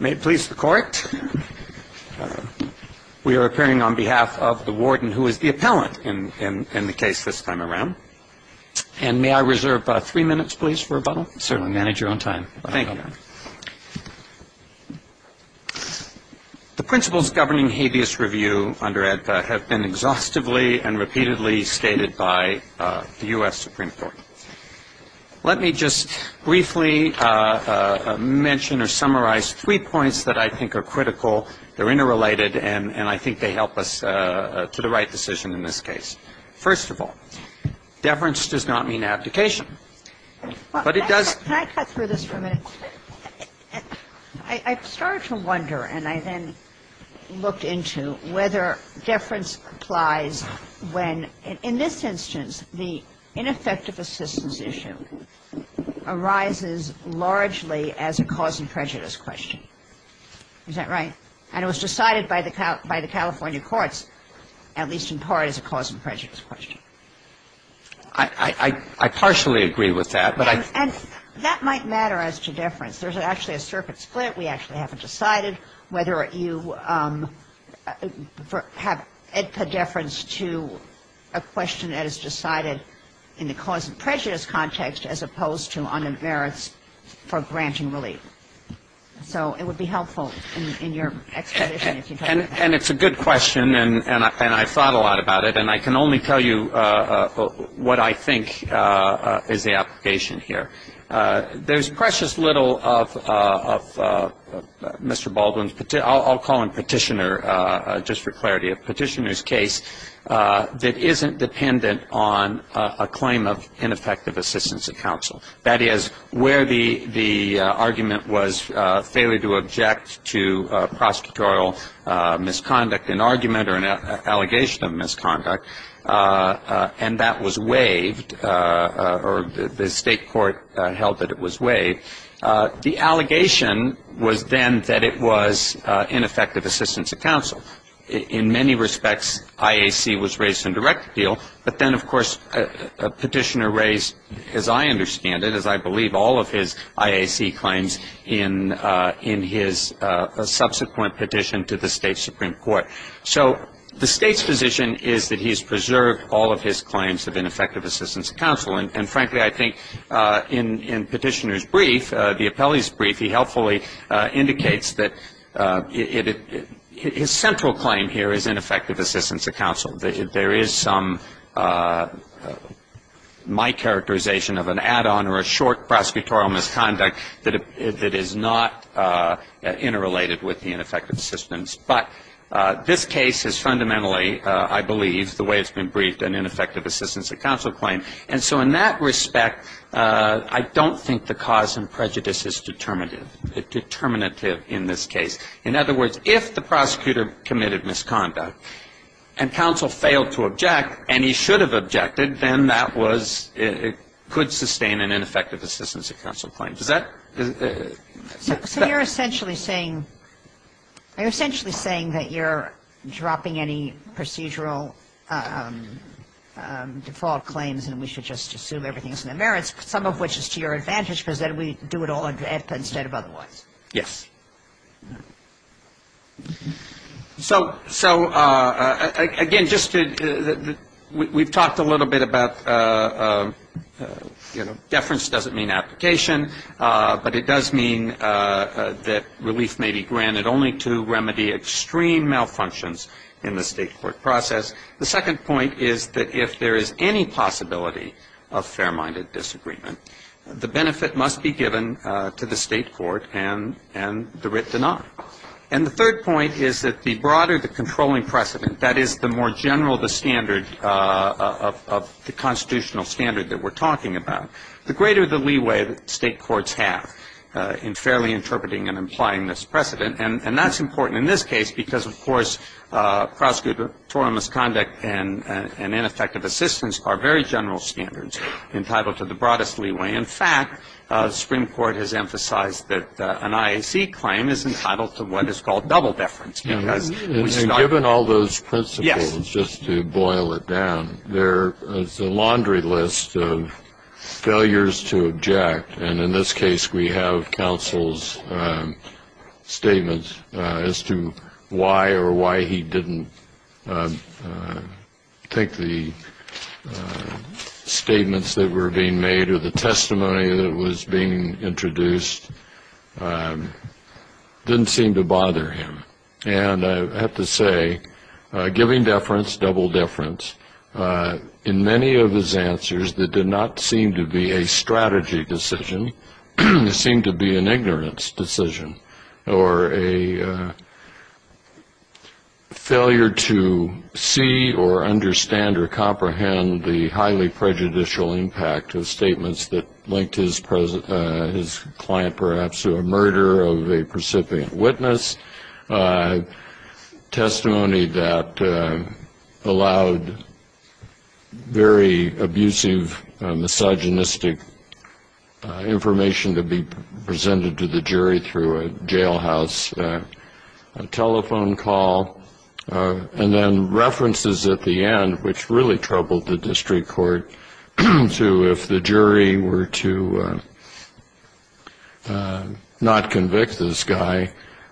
May it please the court. We are appearing on behalf of the warden, who is the appellant in the case this time around. And may I reserve three minutes, please, for rebuttal? Certainly. Manage your own time. Thank you. The principles governing habeas review under ADPA have been exhaustively and repeatedly stated by the U.S. Supreme Court. Let me just briefly mention or summarize three points that I think are critical. They're interrelated, and I think they help us to the right decision in this case. First of all, deference does not mean abdication. But it does Can I cut through this for a minute? I started to wonder, and I then looked into whether deference applies when, in this instance, the ineffective assistance issue arises largely as a cause and prejudice question. Is that right? And it was decided by the California courts, at least in part, as a cause and prejudice question. I partially agree with that, but I And that might matter as to deference. There's actually a circuit split. We actually haven't decided whether you have ADPA deference to a question that is decided in the cause and prejudice context as opposed to on the merits for granting relief. So it would be helpful in your exposition if you talked about that. And it's a good question, and I thought a lot about it. And I can only tell you what I think is the application here. There's precious little of Mr. Baldwin's, I'll call him petitioner just for clarity, a petitioner's case that isn't dependent on a claim of ineffective assistance of counsel. That is, where the argument was failure to object to prosecutorial misconduct, an argument or an allegation of misconduct, and that was waived, or the state court held that it was waived. The allegation was then that it was ineffective assistance of counsel. In many respects, IAC was raised in direct appeal, but then, of course, a petitioner raised, as I understand it, as I believe all of his IAC claims in his subsequent petition to the state supreme court. So the state's position is that he has preserved all of his claims of ineffective assistance of counsel. And, frankly, I think in petitioner's brief, the appellee's brief, he helpfully indicates that his central claim here is ineffective assistance of counsel. There is some, my characterization of an add-on or a short prosecutorial misconduct that is not interrelated with the ineffective assistance. But this case is fundamentally, I believe, the way it's been briefed, an ineffective assistance of counsel claim. And so in that respect, I don't think the cause and prejudice is determinative in this case. In other words, if the prosecutor committed misconduct and counsel failed to object, and he should have objected, then that was, it could sustain an ineffective assistance of counsel claim. Does that? So you're essentially saying that you're dropping any procedural default claims and we should just assume everything's in the merits, some of which is to your advantage because then we do it all instead of otherwise. Yes. So, again, just to, we've talked a little bit about, you know, deference doesn't mean application, but it does mean that relief may be granted only to remedy extreme malfunctions in the state court process. The second point is that if there is any possibility of fair-minded disagreement, the benefit must be given to the state court and the writ denied. And the third point is that the broader the controlling precedent, that is the more general the standard of the constitutional standard that we're talking about, the greater the leeway that state courts have in fairly interpreting and implying this precedent. And that's important in this case because, of course, prosecutorial misconduct and ineffective assistance are very general standards entitled to the broadest leeway. In fact, the Supreme Court has emphasized that an IAC claim is entitled to what is called double deference. And given all those principles, just to boil it down, there is a laundry list of failures to object. And in this case, we have counsel's statements as to why or why he didn't think the statements that were being made or the testimony that was being introduced didn't seem to bother him. And I have to say giving deference, double deference, in many of his answers that did not seem to be a strategy decision, it seemed to be an ignorance decision or a failure to see or understand or comprehend the highly prejudicial impact of statements that linked his client, perhaps, to a murder of a precipient witness, testimony that allowed very abusive, misogynistic information to be presented to the jury through a jailhouse telephone call, and then references at the end, which really troubled the district court, so if the jury were to not convict this guy,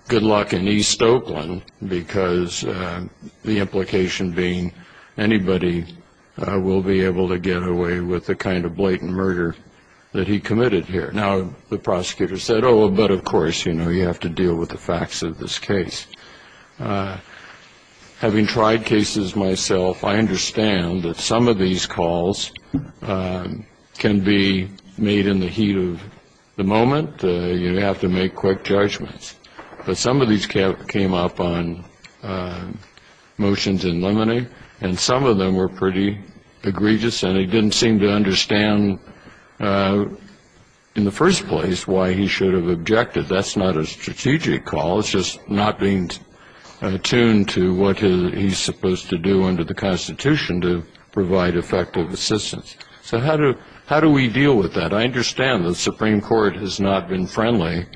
good luck in East Oakland, because the implication being anybody will be able to get away with the kind of blatant murder that he committed here. Now, the prosecutor said, oh, but of course, you know, you have to deal with the facts of this case. Having tried cases myself, I understand that some of these calls can be made in the heat of the moment. You have to make quick judgments. But some of these came up on motions in limine, and some of them were pretty egregious, and he didn't seem to understand in the first place why he should have objected. That's not a strategic call. It's just not being attuned to what he's supposed to do under the Constitution to provide effective assistance. So how do we deal with that? I understand the Supreme Court has not been friendly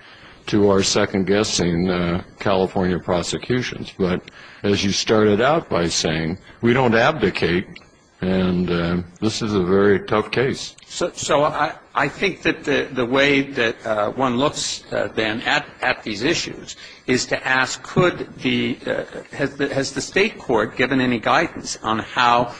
to our second-guessing California prosecutions, but as you started out by saying, we don't abdicate, and this is a very tough case. So I think that the way that one looks, then, at these issues is to ask could the ‑‑ has the state court given any guidance on how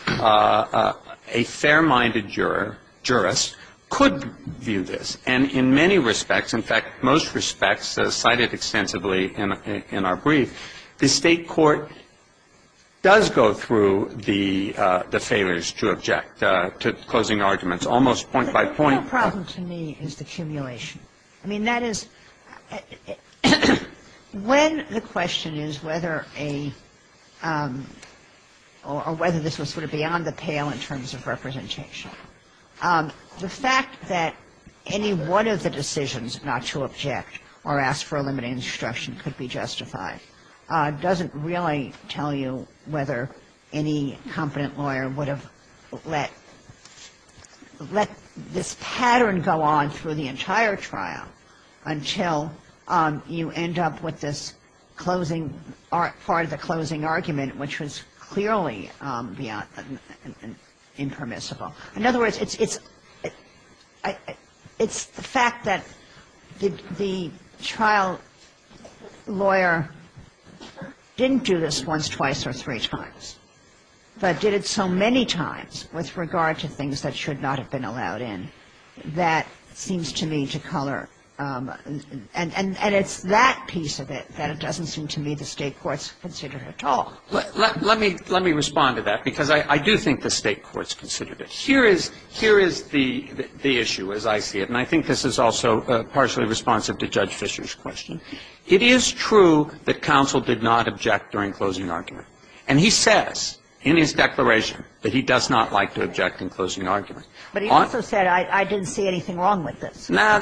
a fair-minded juror, jurist, could view this? And in many respects, in fact, most respects cited extensively in our brief, The state court does go through the failures to object to closing arguments, almost point by point. The real problem to me is the accumulation. I mean, that is, when the question is whether a ‑‑ or whether this was sort of beyond the pale in terms of representation, the fact that any one of the decisions not to object or ask for a limited instruction could be justified doesn't really tell you whether any competent lawyer would have let this pattern go on through the entire trial until you end up with this closing ‑‑ part of the closing argument, which was clearly impermissible. In other words, it's the fact that the trial lawyer didn't do this once, twice, or three times, but did it so many times with regard to things that should not have been allowed in, that seems to me to color. And it's that piece of it that it doesn't seem to me the state court's considered at all. Let me respond to that, because I do think the state court's considered it. Here is the issue, as I see it, and I think this is also partially responsive to Judge Fischer's question. It is true that counsel did not object during closing argument. And he says in his declaration that he does not like to object in closing argument. But he also said I didn't see anything wrong with this. Now,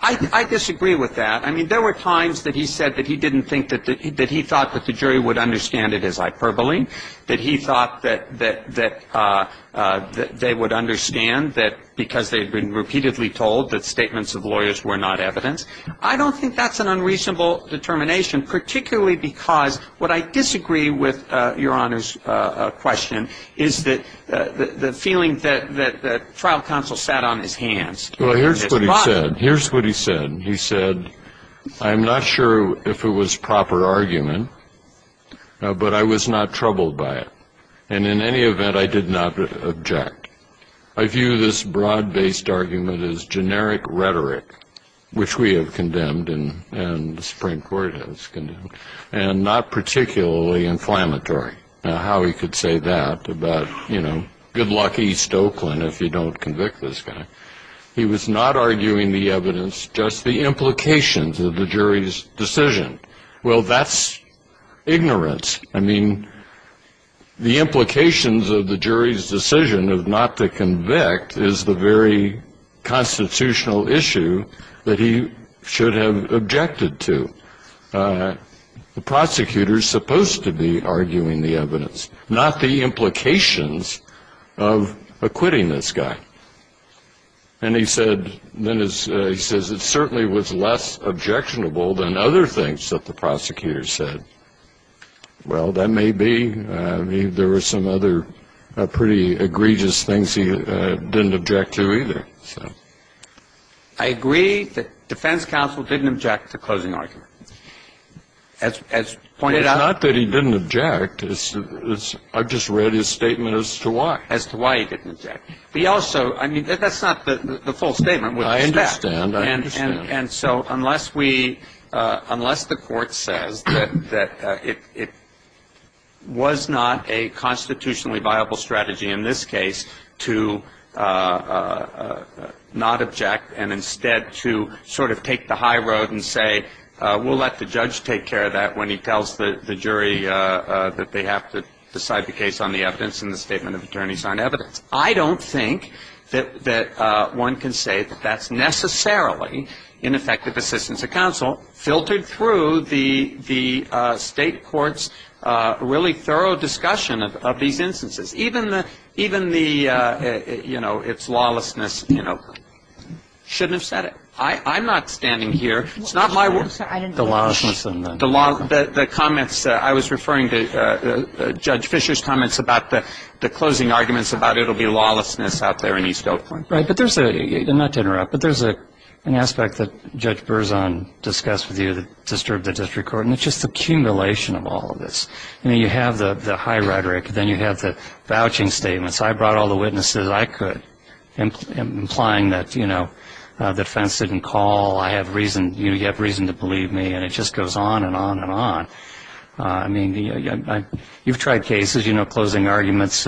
I disagree with that. I mean, there were times that he said that he didn't think that ‑‑ that he thought that the jury would understand it as hyperbole, that he thought that they would understand that because they had been repeatedly told that statements of lawyers were not evidence. I don't think that's an unreasonable determination, particularly because what I disagree with, Your Honor's question, is that the feeling that trial counsel sat on his hands. Well, here's what he said. Here's what he said. He said, I'm not sure if it was proper argument, but I was not troubled by it. And in any event, I did not object. I view this broad-based argument as generic rhetoric, which we have condemned and the Supreme Court has condemned, and not particularly inflammatory. Now, how he could say that about, you know, good luck East Oakland if you don't convict this guy. He was not arguing the evidence, just the implications of the jury's decision. Well, that's ignorance. I mean, the implications of the jury's decision of not to convict is the very constitutional issue that he should have objected to. The prosecutor is supposed to be arguing the evidence, not the implications of acquitting this guy. And he said, then he says, it certainly was less objectionable than other things that the prosecutor said. Well, that may be. I mean, there were some other pretty egregious things he didn't object to either. I agree that defense counsel didn't object to closing argument. As pointed out. It's not that he didn't object. I just read his statement as to why. As to why he didn't object. But he also, I mean, that's not the full statement. I understand. And so unless we, unless the court says that it was not a constitutionally viable strategy in this case to not object and instead to sort of take the high road and say, we'll let the judge take care of that when he tells the jury that they have to decide the case on the evidence and the statement of attorneys on evidence. I don't think that one can say that that's necessarily ineffective assistance of counsel filtered through the state court's really thorough discussion of these instances. Even the, you know, its lawlessness, you know, shouldn't have said it. I'm not standing here. It's not my word. The lawlessness. The law, the comments, I was referring to Judge Fisher's comments about the closing arguments about it will be lawlessness out there in East Oakland. Right. But there's a, not to interrupt, but there's an aspect that Judge Berzon discussed with you that disturbed the district court, and it's just the accumulation of all of this. I mean, you have the high rhetoric. Then you have the vouching statements. I brought all the witnesses I could, implying that, you know, defense didn't call. I have reason, you have reason to believe me. And it just goes on and on and on. I mean, you've tried cases, you know, closing arguments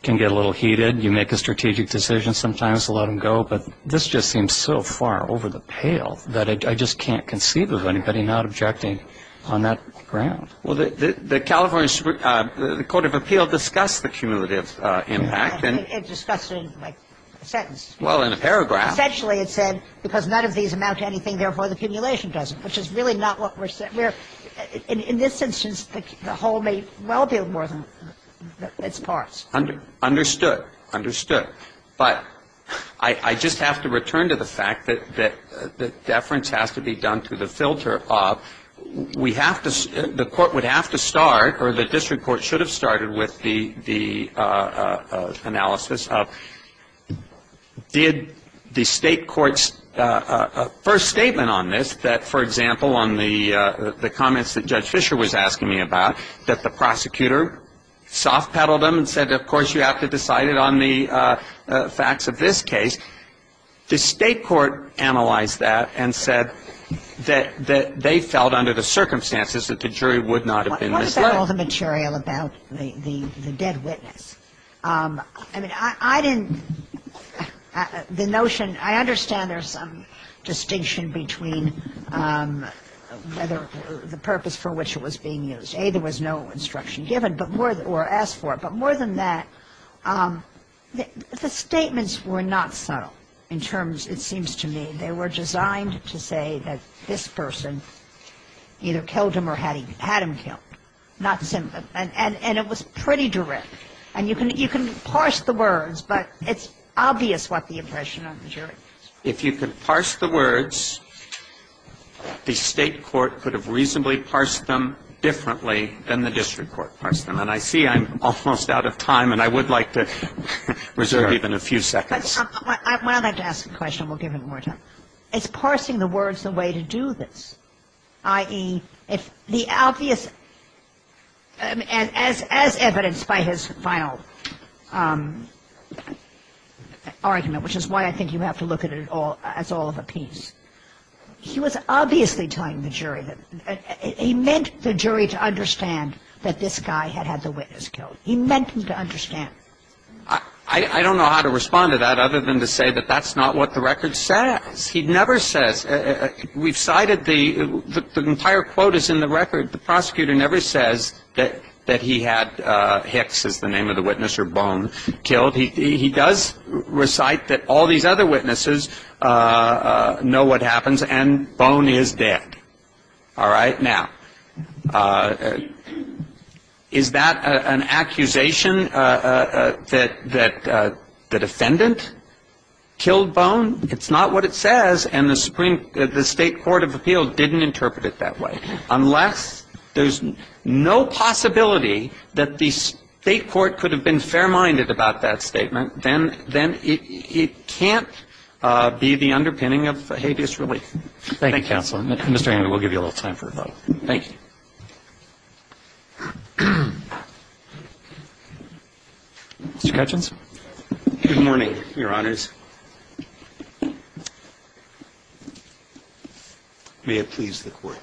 can get a little heated. You make a strategic decision sometimes to let them go. But this just seems so far over the pale that I just can't conceive of anybody not objecting on that ground. Well, the California Court of Appeal discussed the cumulative impact. It discussed it in a sentence. Well, in a paragraph. Essentially, it said, because none of these amount to anything, therefore, the accumulation doesn't, which is really not what we're saying. We're, in this instance, the whole may well be more than its parts. Understood. Understood. But I just have to return to the fact that deference has to be done through the filter. We have to, the court would have to start, or the district court should have started with the analysis of, did the state court's first statement on this, that, for example, on the comments that Judge Fischer was asking me about, that the prosecutor soft-pedaled them and said, of course, you have to decide it on the facts of this case. The state court analyzed that and said that they felt under the circumstances that the jury would not have been misled. What about all the material about the dead witness? I mean, I didn't, the notion, I understand there's some distinction between whether the purpose for which it was being used. A, there was no instruction given, or asked for it. But more than that, the statements were not subtle in terms, it seems to me. They were designed to say that this person either killed him or had him killed. And it was pretty direct. And you can parse the words, but it's obvious what the impression of the jury is. If you could parse the words, the state court could have reasonably parsed them differently than the district court parsed them. And I see I'm almost out of time, and I would like to reserve even a few seconds. I'd like to ask a question, and we'll give him more time. Is parsing the words the way to do this? Yes. I mean, if the jury was to decide that this case was not a case of a juror, i.e., if the obvious as evidenced by his final argument, which is why I think you have to look at it as all of a piece. He was obviously telling the jury that he meant the jury to understand that this guy had had the witness killed. He meant him to understand. I don't know how to respond to that other than to say that that's not what the record says. He never says. We've cited the entire quote is in the record. The prosecutor never says that he had Hicks, is the name of the witness, or Bone, killed. He does recite that all these other witnesses know what happens, and Bone is dead. All right? Now, is that an accusation that the defendant killed Bone? It's not what it says. And the Supreme – the State court of appeal didn't interpret it that way. Unless there's no possibility that the State court could have been fair-minded about that statement, then it can't be the underpinning of habeas relief. Thank you, counsel. Mr. Henry, we'll give you a little time for a thought. Thank you. Mr. Ketchins. Good morning, Your Honors. May it please the Court.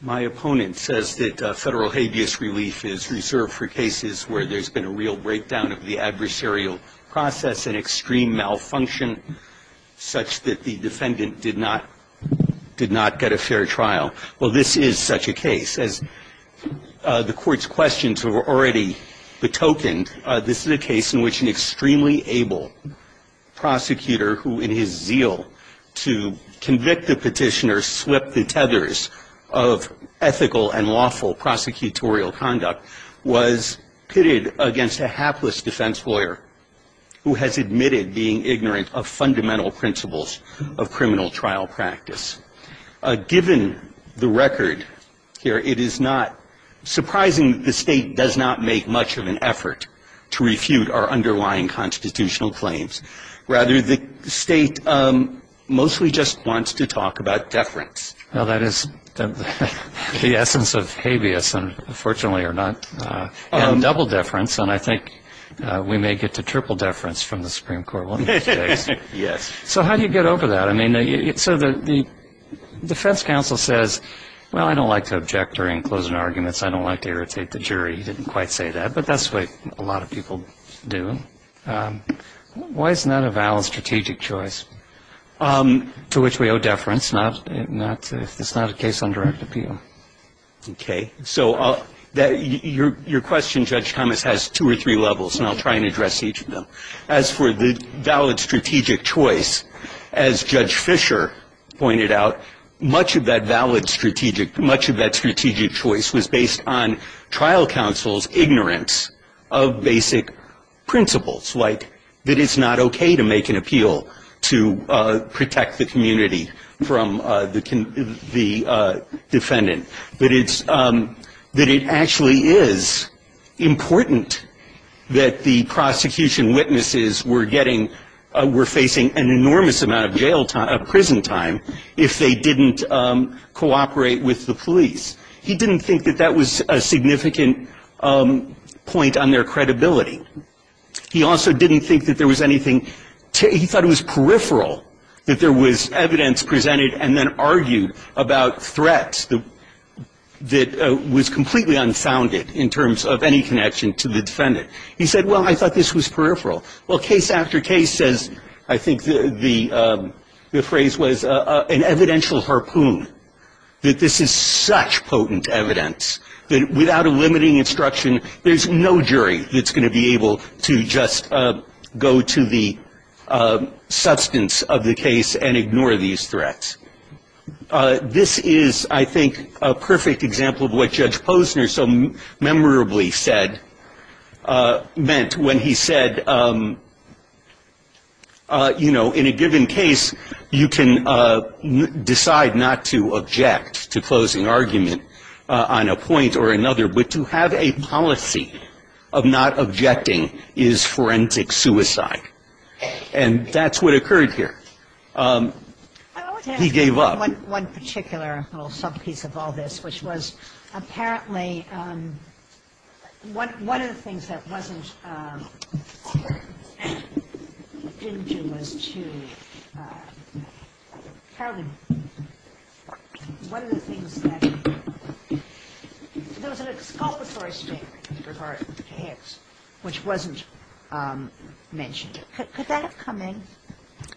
My opponent says that federal habeas relief is reserved for cases where there's been a real breakdown of the adversarial process and extreme malfunction such that the defendant did not get a fair trial. Well, this is such a case. As the Court's questions have already betokened, this is a case in which an extremely able prosecutor who, in his zeal to convict the petitioner, of ethical and lawful prosecutorial conduct was pitted against a hapless defense lawyer who has admitted being ignorant of fundamental principles of criminal trial practice. Given the record here, it is not surprising that the State does not make much of an effort to refute our underlying constitutional claims. Rather, the State mostly just wants to talk about deference. Well, that is the essence of habeas, and fortunately or not, and double deference. And I think we may get to triple deference from the Supreme Court one of these days. Yes. So how do you get over that? I mean, so the defense counsel says, well, I don't like to object during closing arguments. I don't like to irritate the jury. You didn't quite say that, but that's what a lot of people do. Why isn't that a valid strategic choice to which we owe deference if it's not a case on direct appeal? Okay. So your question, Judge Thomas, has two or three levels, and I'll try and address each of them. As for the valid strategic choice, as Judge Fisher pointed out, much of that valid strategic, much of that strategic choice was based on trial counsel's ignorance of basic principles, like that it's not okay to make an appeal to protect the community from the defendant, but it's, that it actually is important that the prosecution witnesses were getting, were facing an enormous amount of jail time, prison time, if they didn't cooperate with the police. He didn't think that that was a significant point on their credibility. He also didn't think that there was anything, he thought it was peripheral that there was evidence presented and then argued about threats that was completely unfounded in terms of any connection to the defendant. He said, well, I thought this was peripheral. Well, case after case, as I think the phrase was, an evidential harpoon, that this is such potent evidence that without a limiting instruction, there's no jury that's going to be able to just go to the substance of the case and ignore these threats. This is, I think, a perfect example of what Judge Posner so memorably said, meant when he said, you know, in a given case, you can decide not to object to closing argument on a point or another, but to have a policy of not objecting is forensic suicide. And that's what occurred here. He gave up. One particular little sub-piece of all this, which was apparently one of the things that wasn't in June was to, apparently, one of the things that, there was an exculpatory statement with regard to Hicks, which wasn't mentioned. Could that have come in?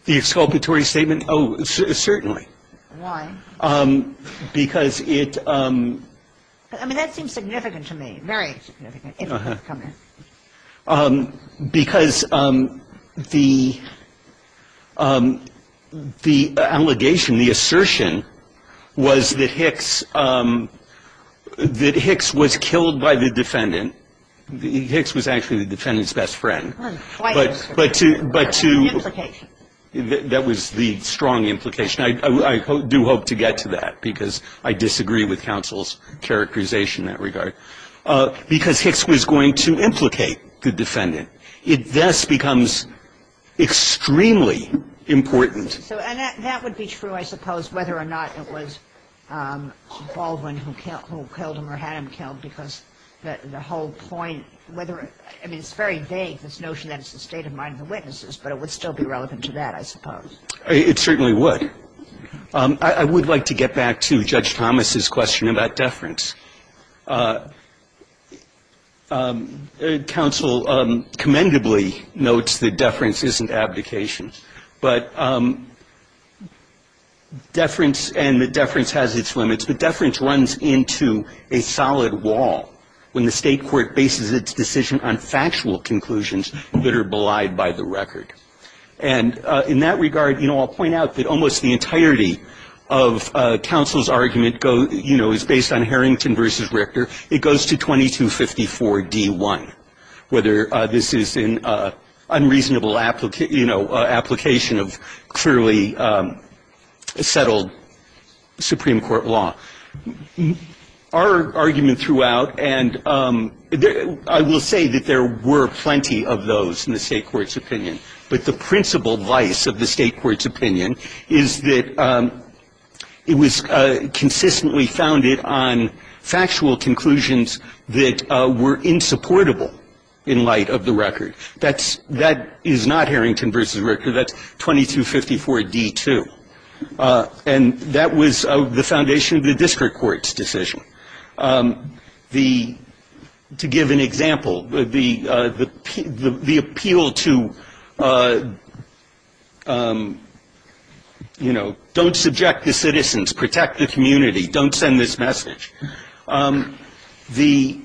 The exculpatory statement? Oh, certainly. Why? Because it... I mean, that seems significant to me, very significant, if it could have come in. Because the allegation, the assertion was that Hicks was killed by the defendant. Hicks was actually the defendant's best friend. But to... Implication. That was the strong implication. I do hope to get to that, because I disagree with counsel's characterization in that regard. Because Hicks was going to implicate the defendant. It thus becomes extremely important. So, and that would be true, I suppose, whether or not it was Baldwin who killed him or had him killed, because the whole point, whether, I mean, it's very vague, this notion that it's the state of mind of the witnesses, but it would still be relevant to that, I suppose. It certainly would. I would like to get back to Judge Thomas's question about deference. Counsel commendably notes that deference isn't abdication. But deference, and that deference has its limits, but deference runs into a solid wall when the State Court bases its decision on factual conclusions that are belied by the record. And in that regard, you know, I'll point out that almost the entirety of counsel's argument, you know, is based on Harrington v. Richter. It goes to 2254d-1, whether this is an unreasonable, you know, application of clearly settled Supreme Court law. Our argument throughout, and I will say that there were plenty of those in the State Court's opinion, but the principal vice of the State Court's opinion is that it was consistently founded on factual conclusions that were insupportable in light of the record. That is not Harrington v. Richter. That's 2254d-2. And that was the foundation of the district court's decision. The, to give an example, the appeal to, you know, don't subject the citizens, protect the community, don't send this message. The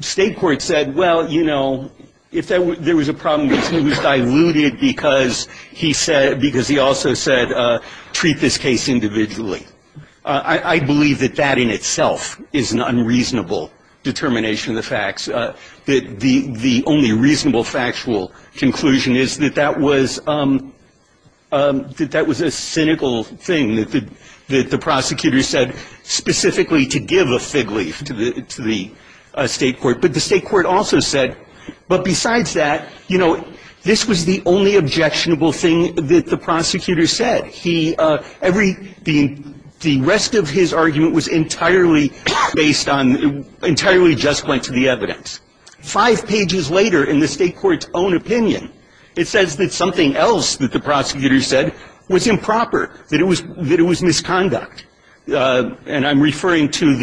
State Court said, well, you know, if there was a problem, it was diluted because he said, because he also said, treat this case individually. I believe that that in itself is an unreasonable determination of the facts. The only reasonable factual conclusion is that that was a cynical thing that the prosecutor said specifically to give a fig leaf to the State Court. But the State Court also said, but besides that, you know, this was the only objectionable thing that the prosecutor said. He, every, the rest of his argument was entirely based on, entirely just went to the evidence. Five pages later in the State Court's own opinion, it says that something else that the prosecutor said was improper, that it was misconduct. And I'm referring to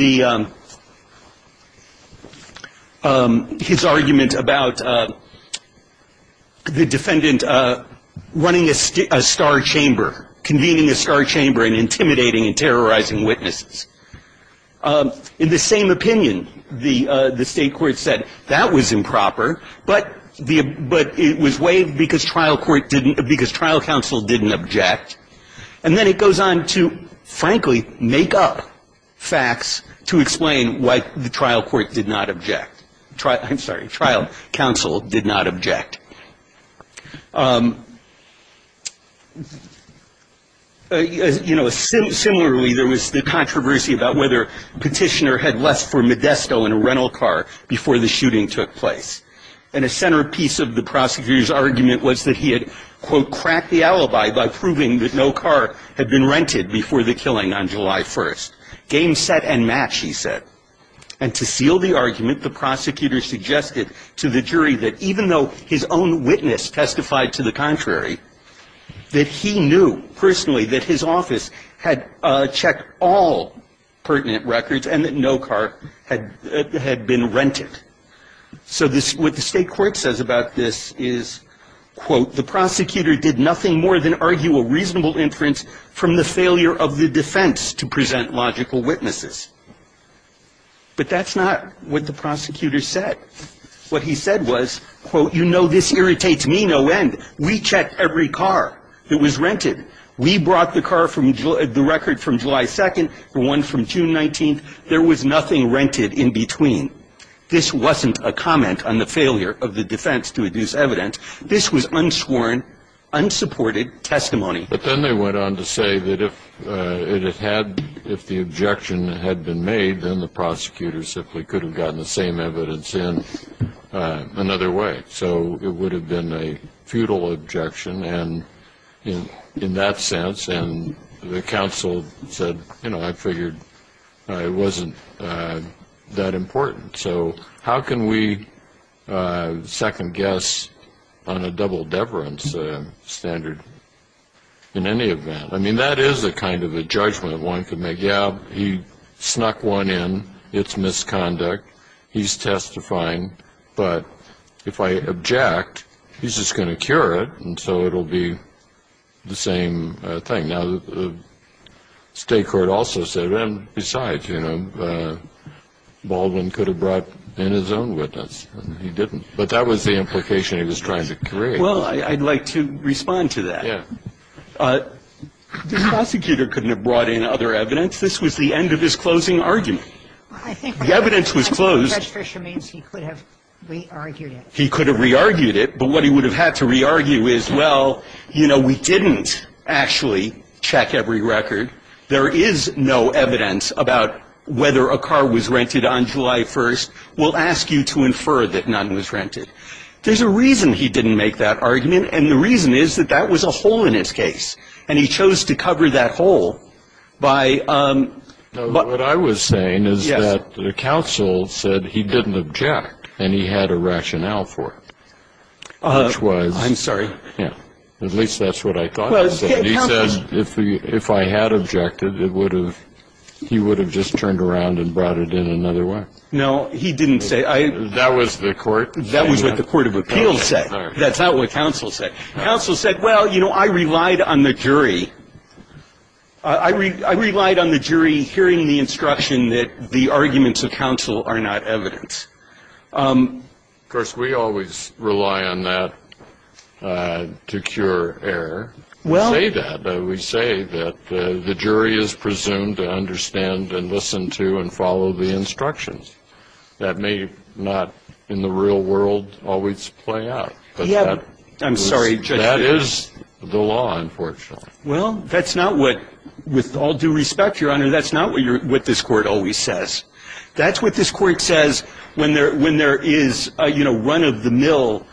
the, his argument about the defendant running a star chamber, convening a star chamber and intimidating and terrorizing witnesses. In the same opinion, the State Court said that was improper, but the, but it was waived because trial court didn't, because trial counsel didn't object. And then it goes on to, frankly, make up facts to explain why the trial court did not object. I'm sorry, trial counsel did not object. You know, similarly, there was the controversy about whether Petitioner had left for Modesto in a rental car before the shooting took place. And a centerpiece of the prosecutor's argument was that he had, quote, cracked the alibi by proving that no car had been rented before the killing on July 1st. Game set and match, he said. And to seal the argument, the prosecutor suggested to the jury that even though his own witness testified to the contrary, that he knew personally that his office had checked all pertinent records and that no car had been rented. So this, what the State Court says about this is, quote, the prosecutor did nothing more than argue a reasonable inference from the failure of the defense to present logical witnesses. But that's not what the prosecutor said. What he said was, quote, you know, this irritates me no end. We checked every car that was rented. We brought the car from, the record from July 2nd, the one from June 19th. There was nothing rented in between. This wasn't a comment on the failure of the defense to produce evidence. This was unsworn, unsupported testimony. But then they went on to say that if it had, if the objection had been made, then the prosecutor simply could have gotten the same evidence in another way. So it would have been a futile objection in that sense. And the counsel said, you know, I figured it wasn't that important. So how can we second guess on a double deference standard in any event? I mean, that is a kind of a judgment one could make. Yeah, he snuck one in. It's misconduct. He's testifying. But if I object, he's just going to cure it, and so it will be the same thing. Now, the state court also said, besides, you know, Baldwin could have brought in his own witness. He didn't. But that was the implication he was trying to create. Well, I'd like to respond to that. Yeah. The prosecutor couldn't have brought in other evidence. This was the end of his closing argument. The evidence was closed. Judge Fischer means he could have re-argued it. He could have re-argued it. But what he would have had to re-argue is, well, you know, we didn't actually check every record. There is no evidence about whether a car was rented on July 1st. We'll ask you to infer that none was rented. There's a reason he didn't make that argument, and the reason is that that was a hole in his case, and he chose to cover that hole by ‑‑ What I was saying is that the counsel said he didn't object, and he had a rationale for it, which was ‑‑ I'm sorry. At least that's what I thought he said. He said if I had objected, he would have just turned around and brought it in another way. No, he didn't say ‑‑ That was the court. That was what the court of appeals said. That's not what counsel said. Counsel said, well, you know, I relied on the jury. I relied on the jury hearing the instruction that the arguments of counsel are not evidence. Of course, we always rely on that to cure error. We say that. We say that the jury is presumed to understand and listen to and follow the instructions. That may not in the real world always play out, but that is the law, unfortunately. Well, that's not what ‑‑ with all due respect, Your Honor, that's not what this court always says. That's what this court says when there is, you know, run of the mill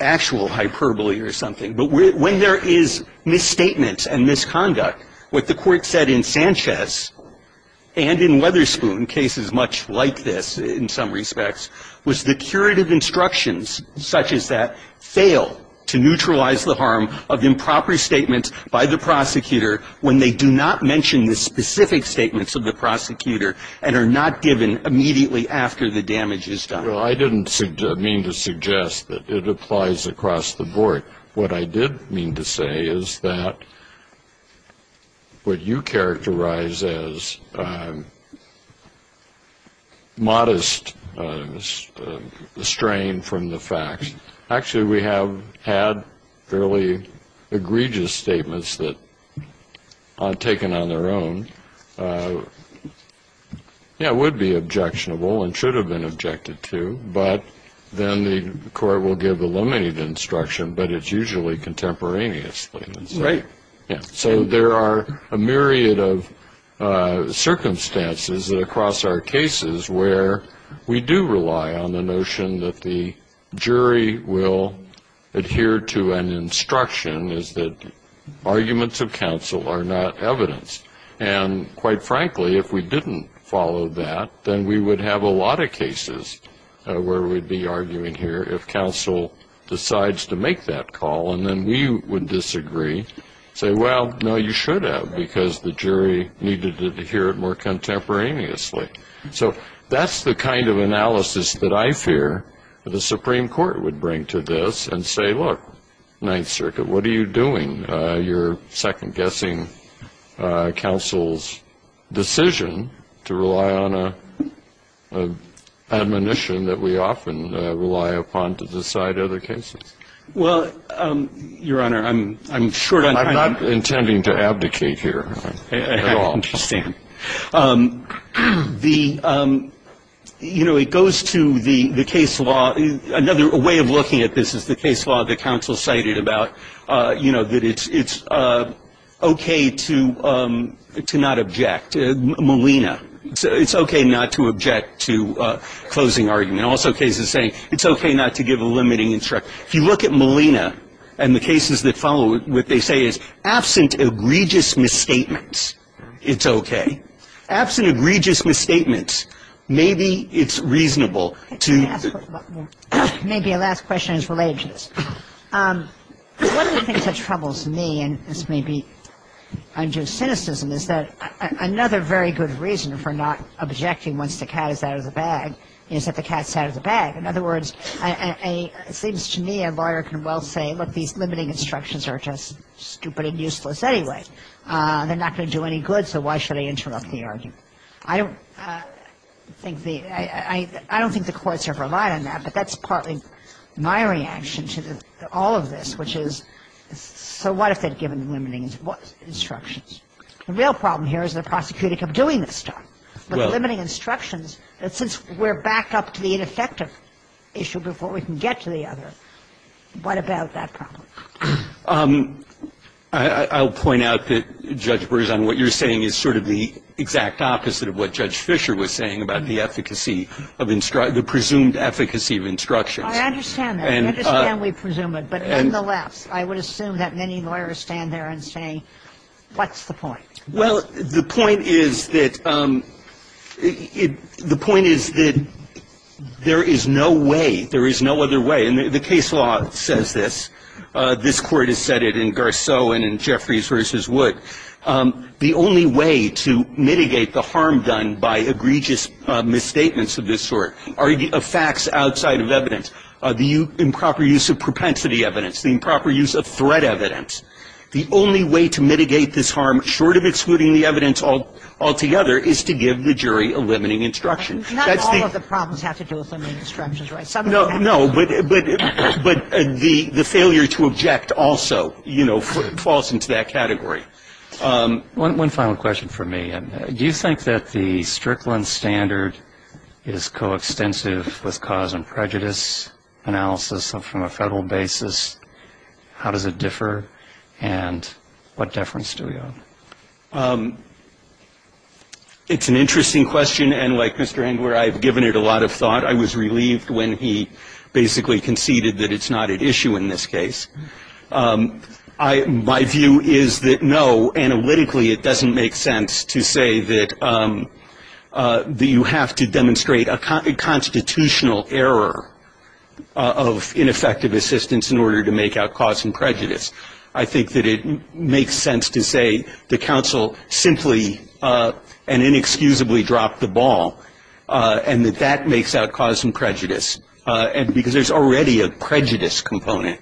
actual hyperbole or something. But when there is misstatement and misconduct, what the court said in Sanchez and in Weatherspoon, cases much like this in some respects, was the curative instructions such as that fail to neutralize the harm of improper statements by the prosecutor when they do not mention the specific statements of the prosecutor and are not given immediately after the damage is done. Well, I didn't mean to suggest that it applies across the board. What I did mean to say is that what you characterize as modest strain from the facts, actually we have had fairly egregious statements that, taken on their own, yeah, would be objectionable and should have been objected to, but then the court will give eliminated instruction, but it's usually contemporaneously. Right. Yeah. So there are a myriad of circumstances across our cases where we do rely on the notion that the jury will adhere to an instruction is that arguments of counsel are not evidence. And quite frankly, if we didn't follow that, then we would have a lot of cases where we'd be arguing here if counsel decides to make that call, and then we would disagree, say, well, no, you should have, because the jury needed to adhere it more contemporaneously. So that's the kind of analysis that I fear the Supreme Court would bring to this and say, look, Ninth Circuit, what are you doing? You're second-guessing counsel's decision to rely on an admonition that we often rely upon to decide other cases. Well, Your Honor, I'm short on time. I'm not intending to abdicate here at all. I understand. The, you know, it goes to the case law. Another way of looking at this is the case law that counsel cited about, you know, that it's okay to not object. Molina, it's okay not to object to closing argument. Also cases saying it's okay not to give a limiting instruction. If you look at Molina and the cases that follow it, what they say is, absent egregious misstatements, it's okay. Absent egregious misstatements, maybe it's reasonable to — Maybe a last question is related to this. One of the things that troubles me, and this may be unjust cynicism, is that another very good reason for not objecting once the cat is out of the bag is that the cat's out of the bag. In other words, it seems to me a lawyer can well say, look, these limiting instructions are just stupid and useless anyway. They're not going to do any good, so why should I interrupt the argument? I don't think the — I don't think the courts have relied on that, but that's partly my reaction to all of this, which is, so what if they'd given the limiting instructions? The real problem here is they're prosecuting of doing this stuff. Well — But the limiting instructions, since we're back up to the ineffective issue before we can get to the other, what about that problem? I'll point out that, Judge Burrson, what you're saying is sort of the exact opposite of what Judge Fischer was saying about the efficacy of — the presumed efficacy of instructions. I understand that. I understand we presume it, but nonetheless, I would assume that many lawyers stand there and say, what's the point? Well, the point is that — the point is that there is no way, there is no other way. And the case law says this. This Court has said it in Garceau and in Jeffries v. Wood. The only way to mitigate the harm done by egregious misstatements of this sort, of facts outside of evidence, the improper use of propensity evidence, the improper use of threat evidence, the only way to mitigate this harm, short of excluding the evidence altogether, is to give the jury a limiting instruction. Not all of the problems have to do with limiting instructions, right? No, but the failure to object also, you know, falls into that category. One final question for me. Do you think that the Strickland standard is coextensive with cause and prejudice analysis from a federal basis? How does it differ, and what deference do we owe? It's an interesting question, and like Mr. Engler, I've given it a lot of thought. I was relieved when he basically conceded that it's not at issue in this case. My view is that, no, analytically it doesn't make sense to say that you have to demonstrate a constitutional error of ineffective assistance in order to make out cause and prejudice. I think that it makes sense to say the counsel simply and inexcusably dropped the ball, and that that makes out cause and prejudice. And because there's already a prejudice component,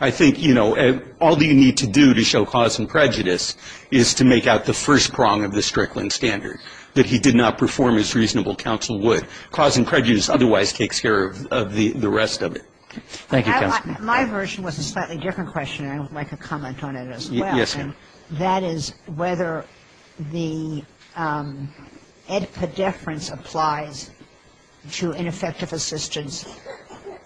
I think, you know, all you need to do to show cause and prejudice is to make out the first prong of the Strickland standard, that he did not perform as reasonable counsel would. Cause and prejudice otherwise takes care of the rest of it. Thank you, counsel. My version was a slightly different question, and I would like to comment on it as well. Yes, ma'am. That is whether the EDPA deference applies to ineffective assistance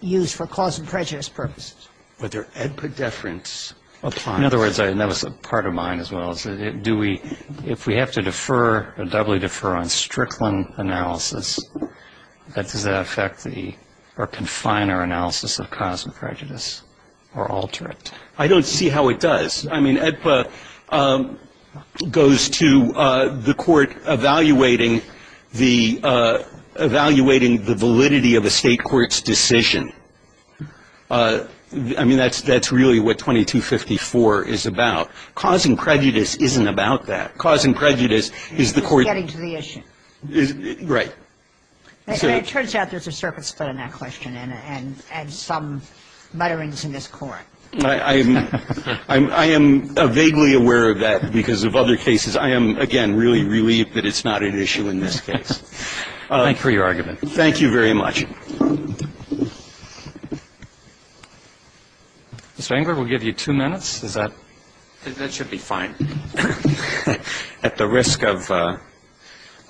used for cause and prejudice purposes. Whether EDPA deference applies. In other words, and that was part of mine as well, if we have to defer or doubly defer on Strickland analysis, does that affect or confine our analysis of cause and prejudice or alter it? I don't see how it does. I mean, EDPA goes to the court evaluating the validity of a state court's decision. I mean, that's really what 2254 is about. Cause and prejudice isn't about that. Cause and prejudice is the court — Getting to the issue. Right. It turns out there's a circuit split on that question and some mutterings in this court. I am vaguely aware of that because of other cases. I am, again, really relieved that it's not an issue in this case. Thank you for your argument. Thank you very much. Mr. Engler, we'll give you two minutes. That should be fine. At the risk of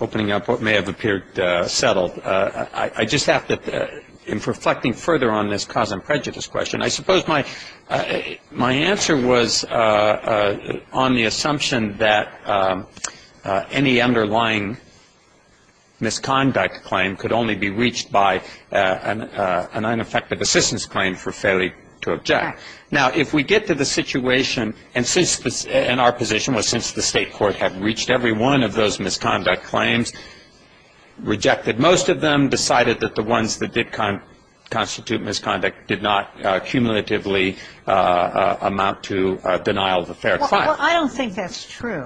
opening up what may have appeared settled, I just have to, in reflecting further on this cause and prejudice question, I suppose my answer was on the assumption that any underlying misconduct claim could only be reached by an unaffected assistance claim for failure to object. Now, if we get to the situation, and our position was since the state court had reached every one of those misconduct claims, rejected most of them, decided that the ones that did constitute misconduct did not cumulatively amount to denial of a fair claim. Well, I don't think that's true.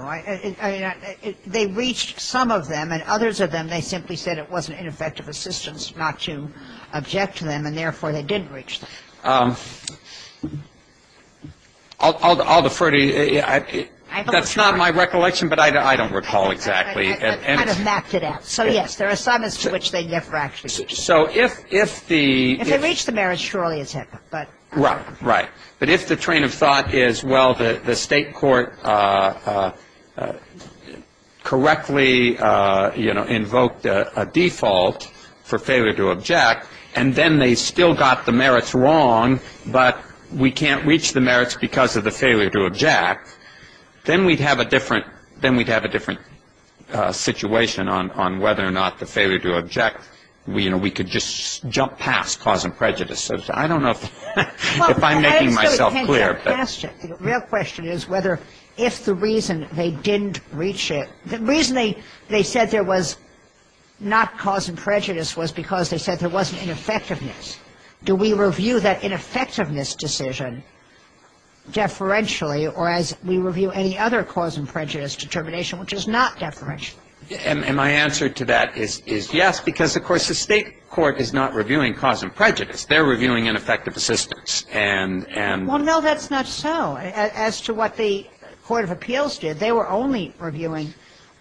They reached some of them, and others of them, they simply said it wasn't an effective assistance not to object to them, and therefore they didn't reach them. I'll defer to you. That's not my recollection, but I don't recall exactly. I kind of mapped it out. So, yes, there are assignments to which they never actually reached. So if the ‑‑ If they reached the merits, surely it's happened. Right, right. But if the train of thought is, well, the state court correctly, you know, invoked a default for failure to object, and then they still got the merits wrong, but we can't reach the merits because of the failure to object, then we'd have a different situation on whether or not the failure to object, you know, we could just jump past cause and prejudice. I don't know if I'm making myself clear. The real question is whether if the reason they didn't reach it, the reason they said there was not cause and prejudice was because they said there wasn't ineffectiveness. Do we review that ineffectiveness decision deferentially or as we review any other cause and prejudice determination, which is not deferentially? And my answer to that is yes, because, of course, the state court is not reviewing cause and prejudice. They're reviewing ineffective assistance. Well, no, that's not so. As to what the court of appeals did, they were only reviewing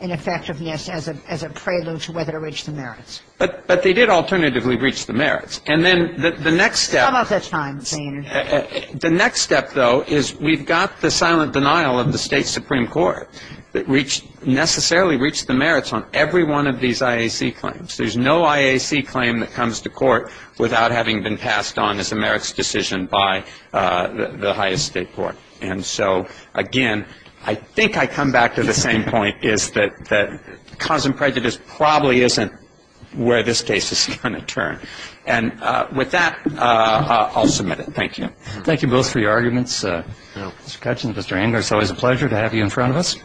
ineffectiveness as a prelude to whether to reach the merits. But they did alternatively reach the merits. And then the next step. How about that time? The next step, though, is we've got the silent denial of the state supreme court that necessarily reached the merits on every one of these IAC claims. There's no IAC claim that comes to court without having been passed on as a merits decision by the highest state court. And so, again, I think I come back to the same point, is that cause and prejudice probably isn't where this case is going to turn. And with that, I'll submit it. Thank you. Thank you both for your arguments. Mr. Kutch and Mr. Anger, it's always a pleasure to have you in front of us.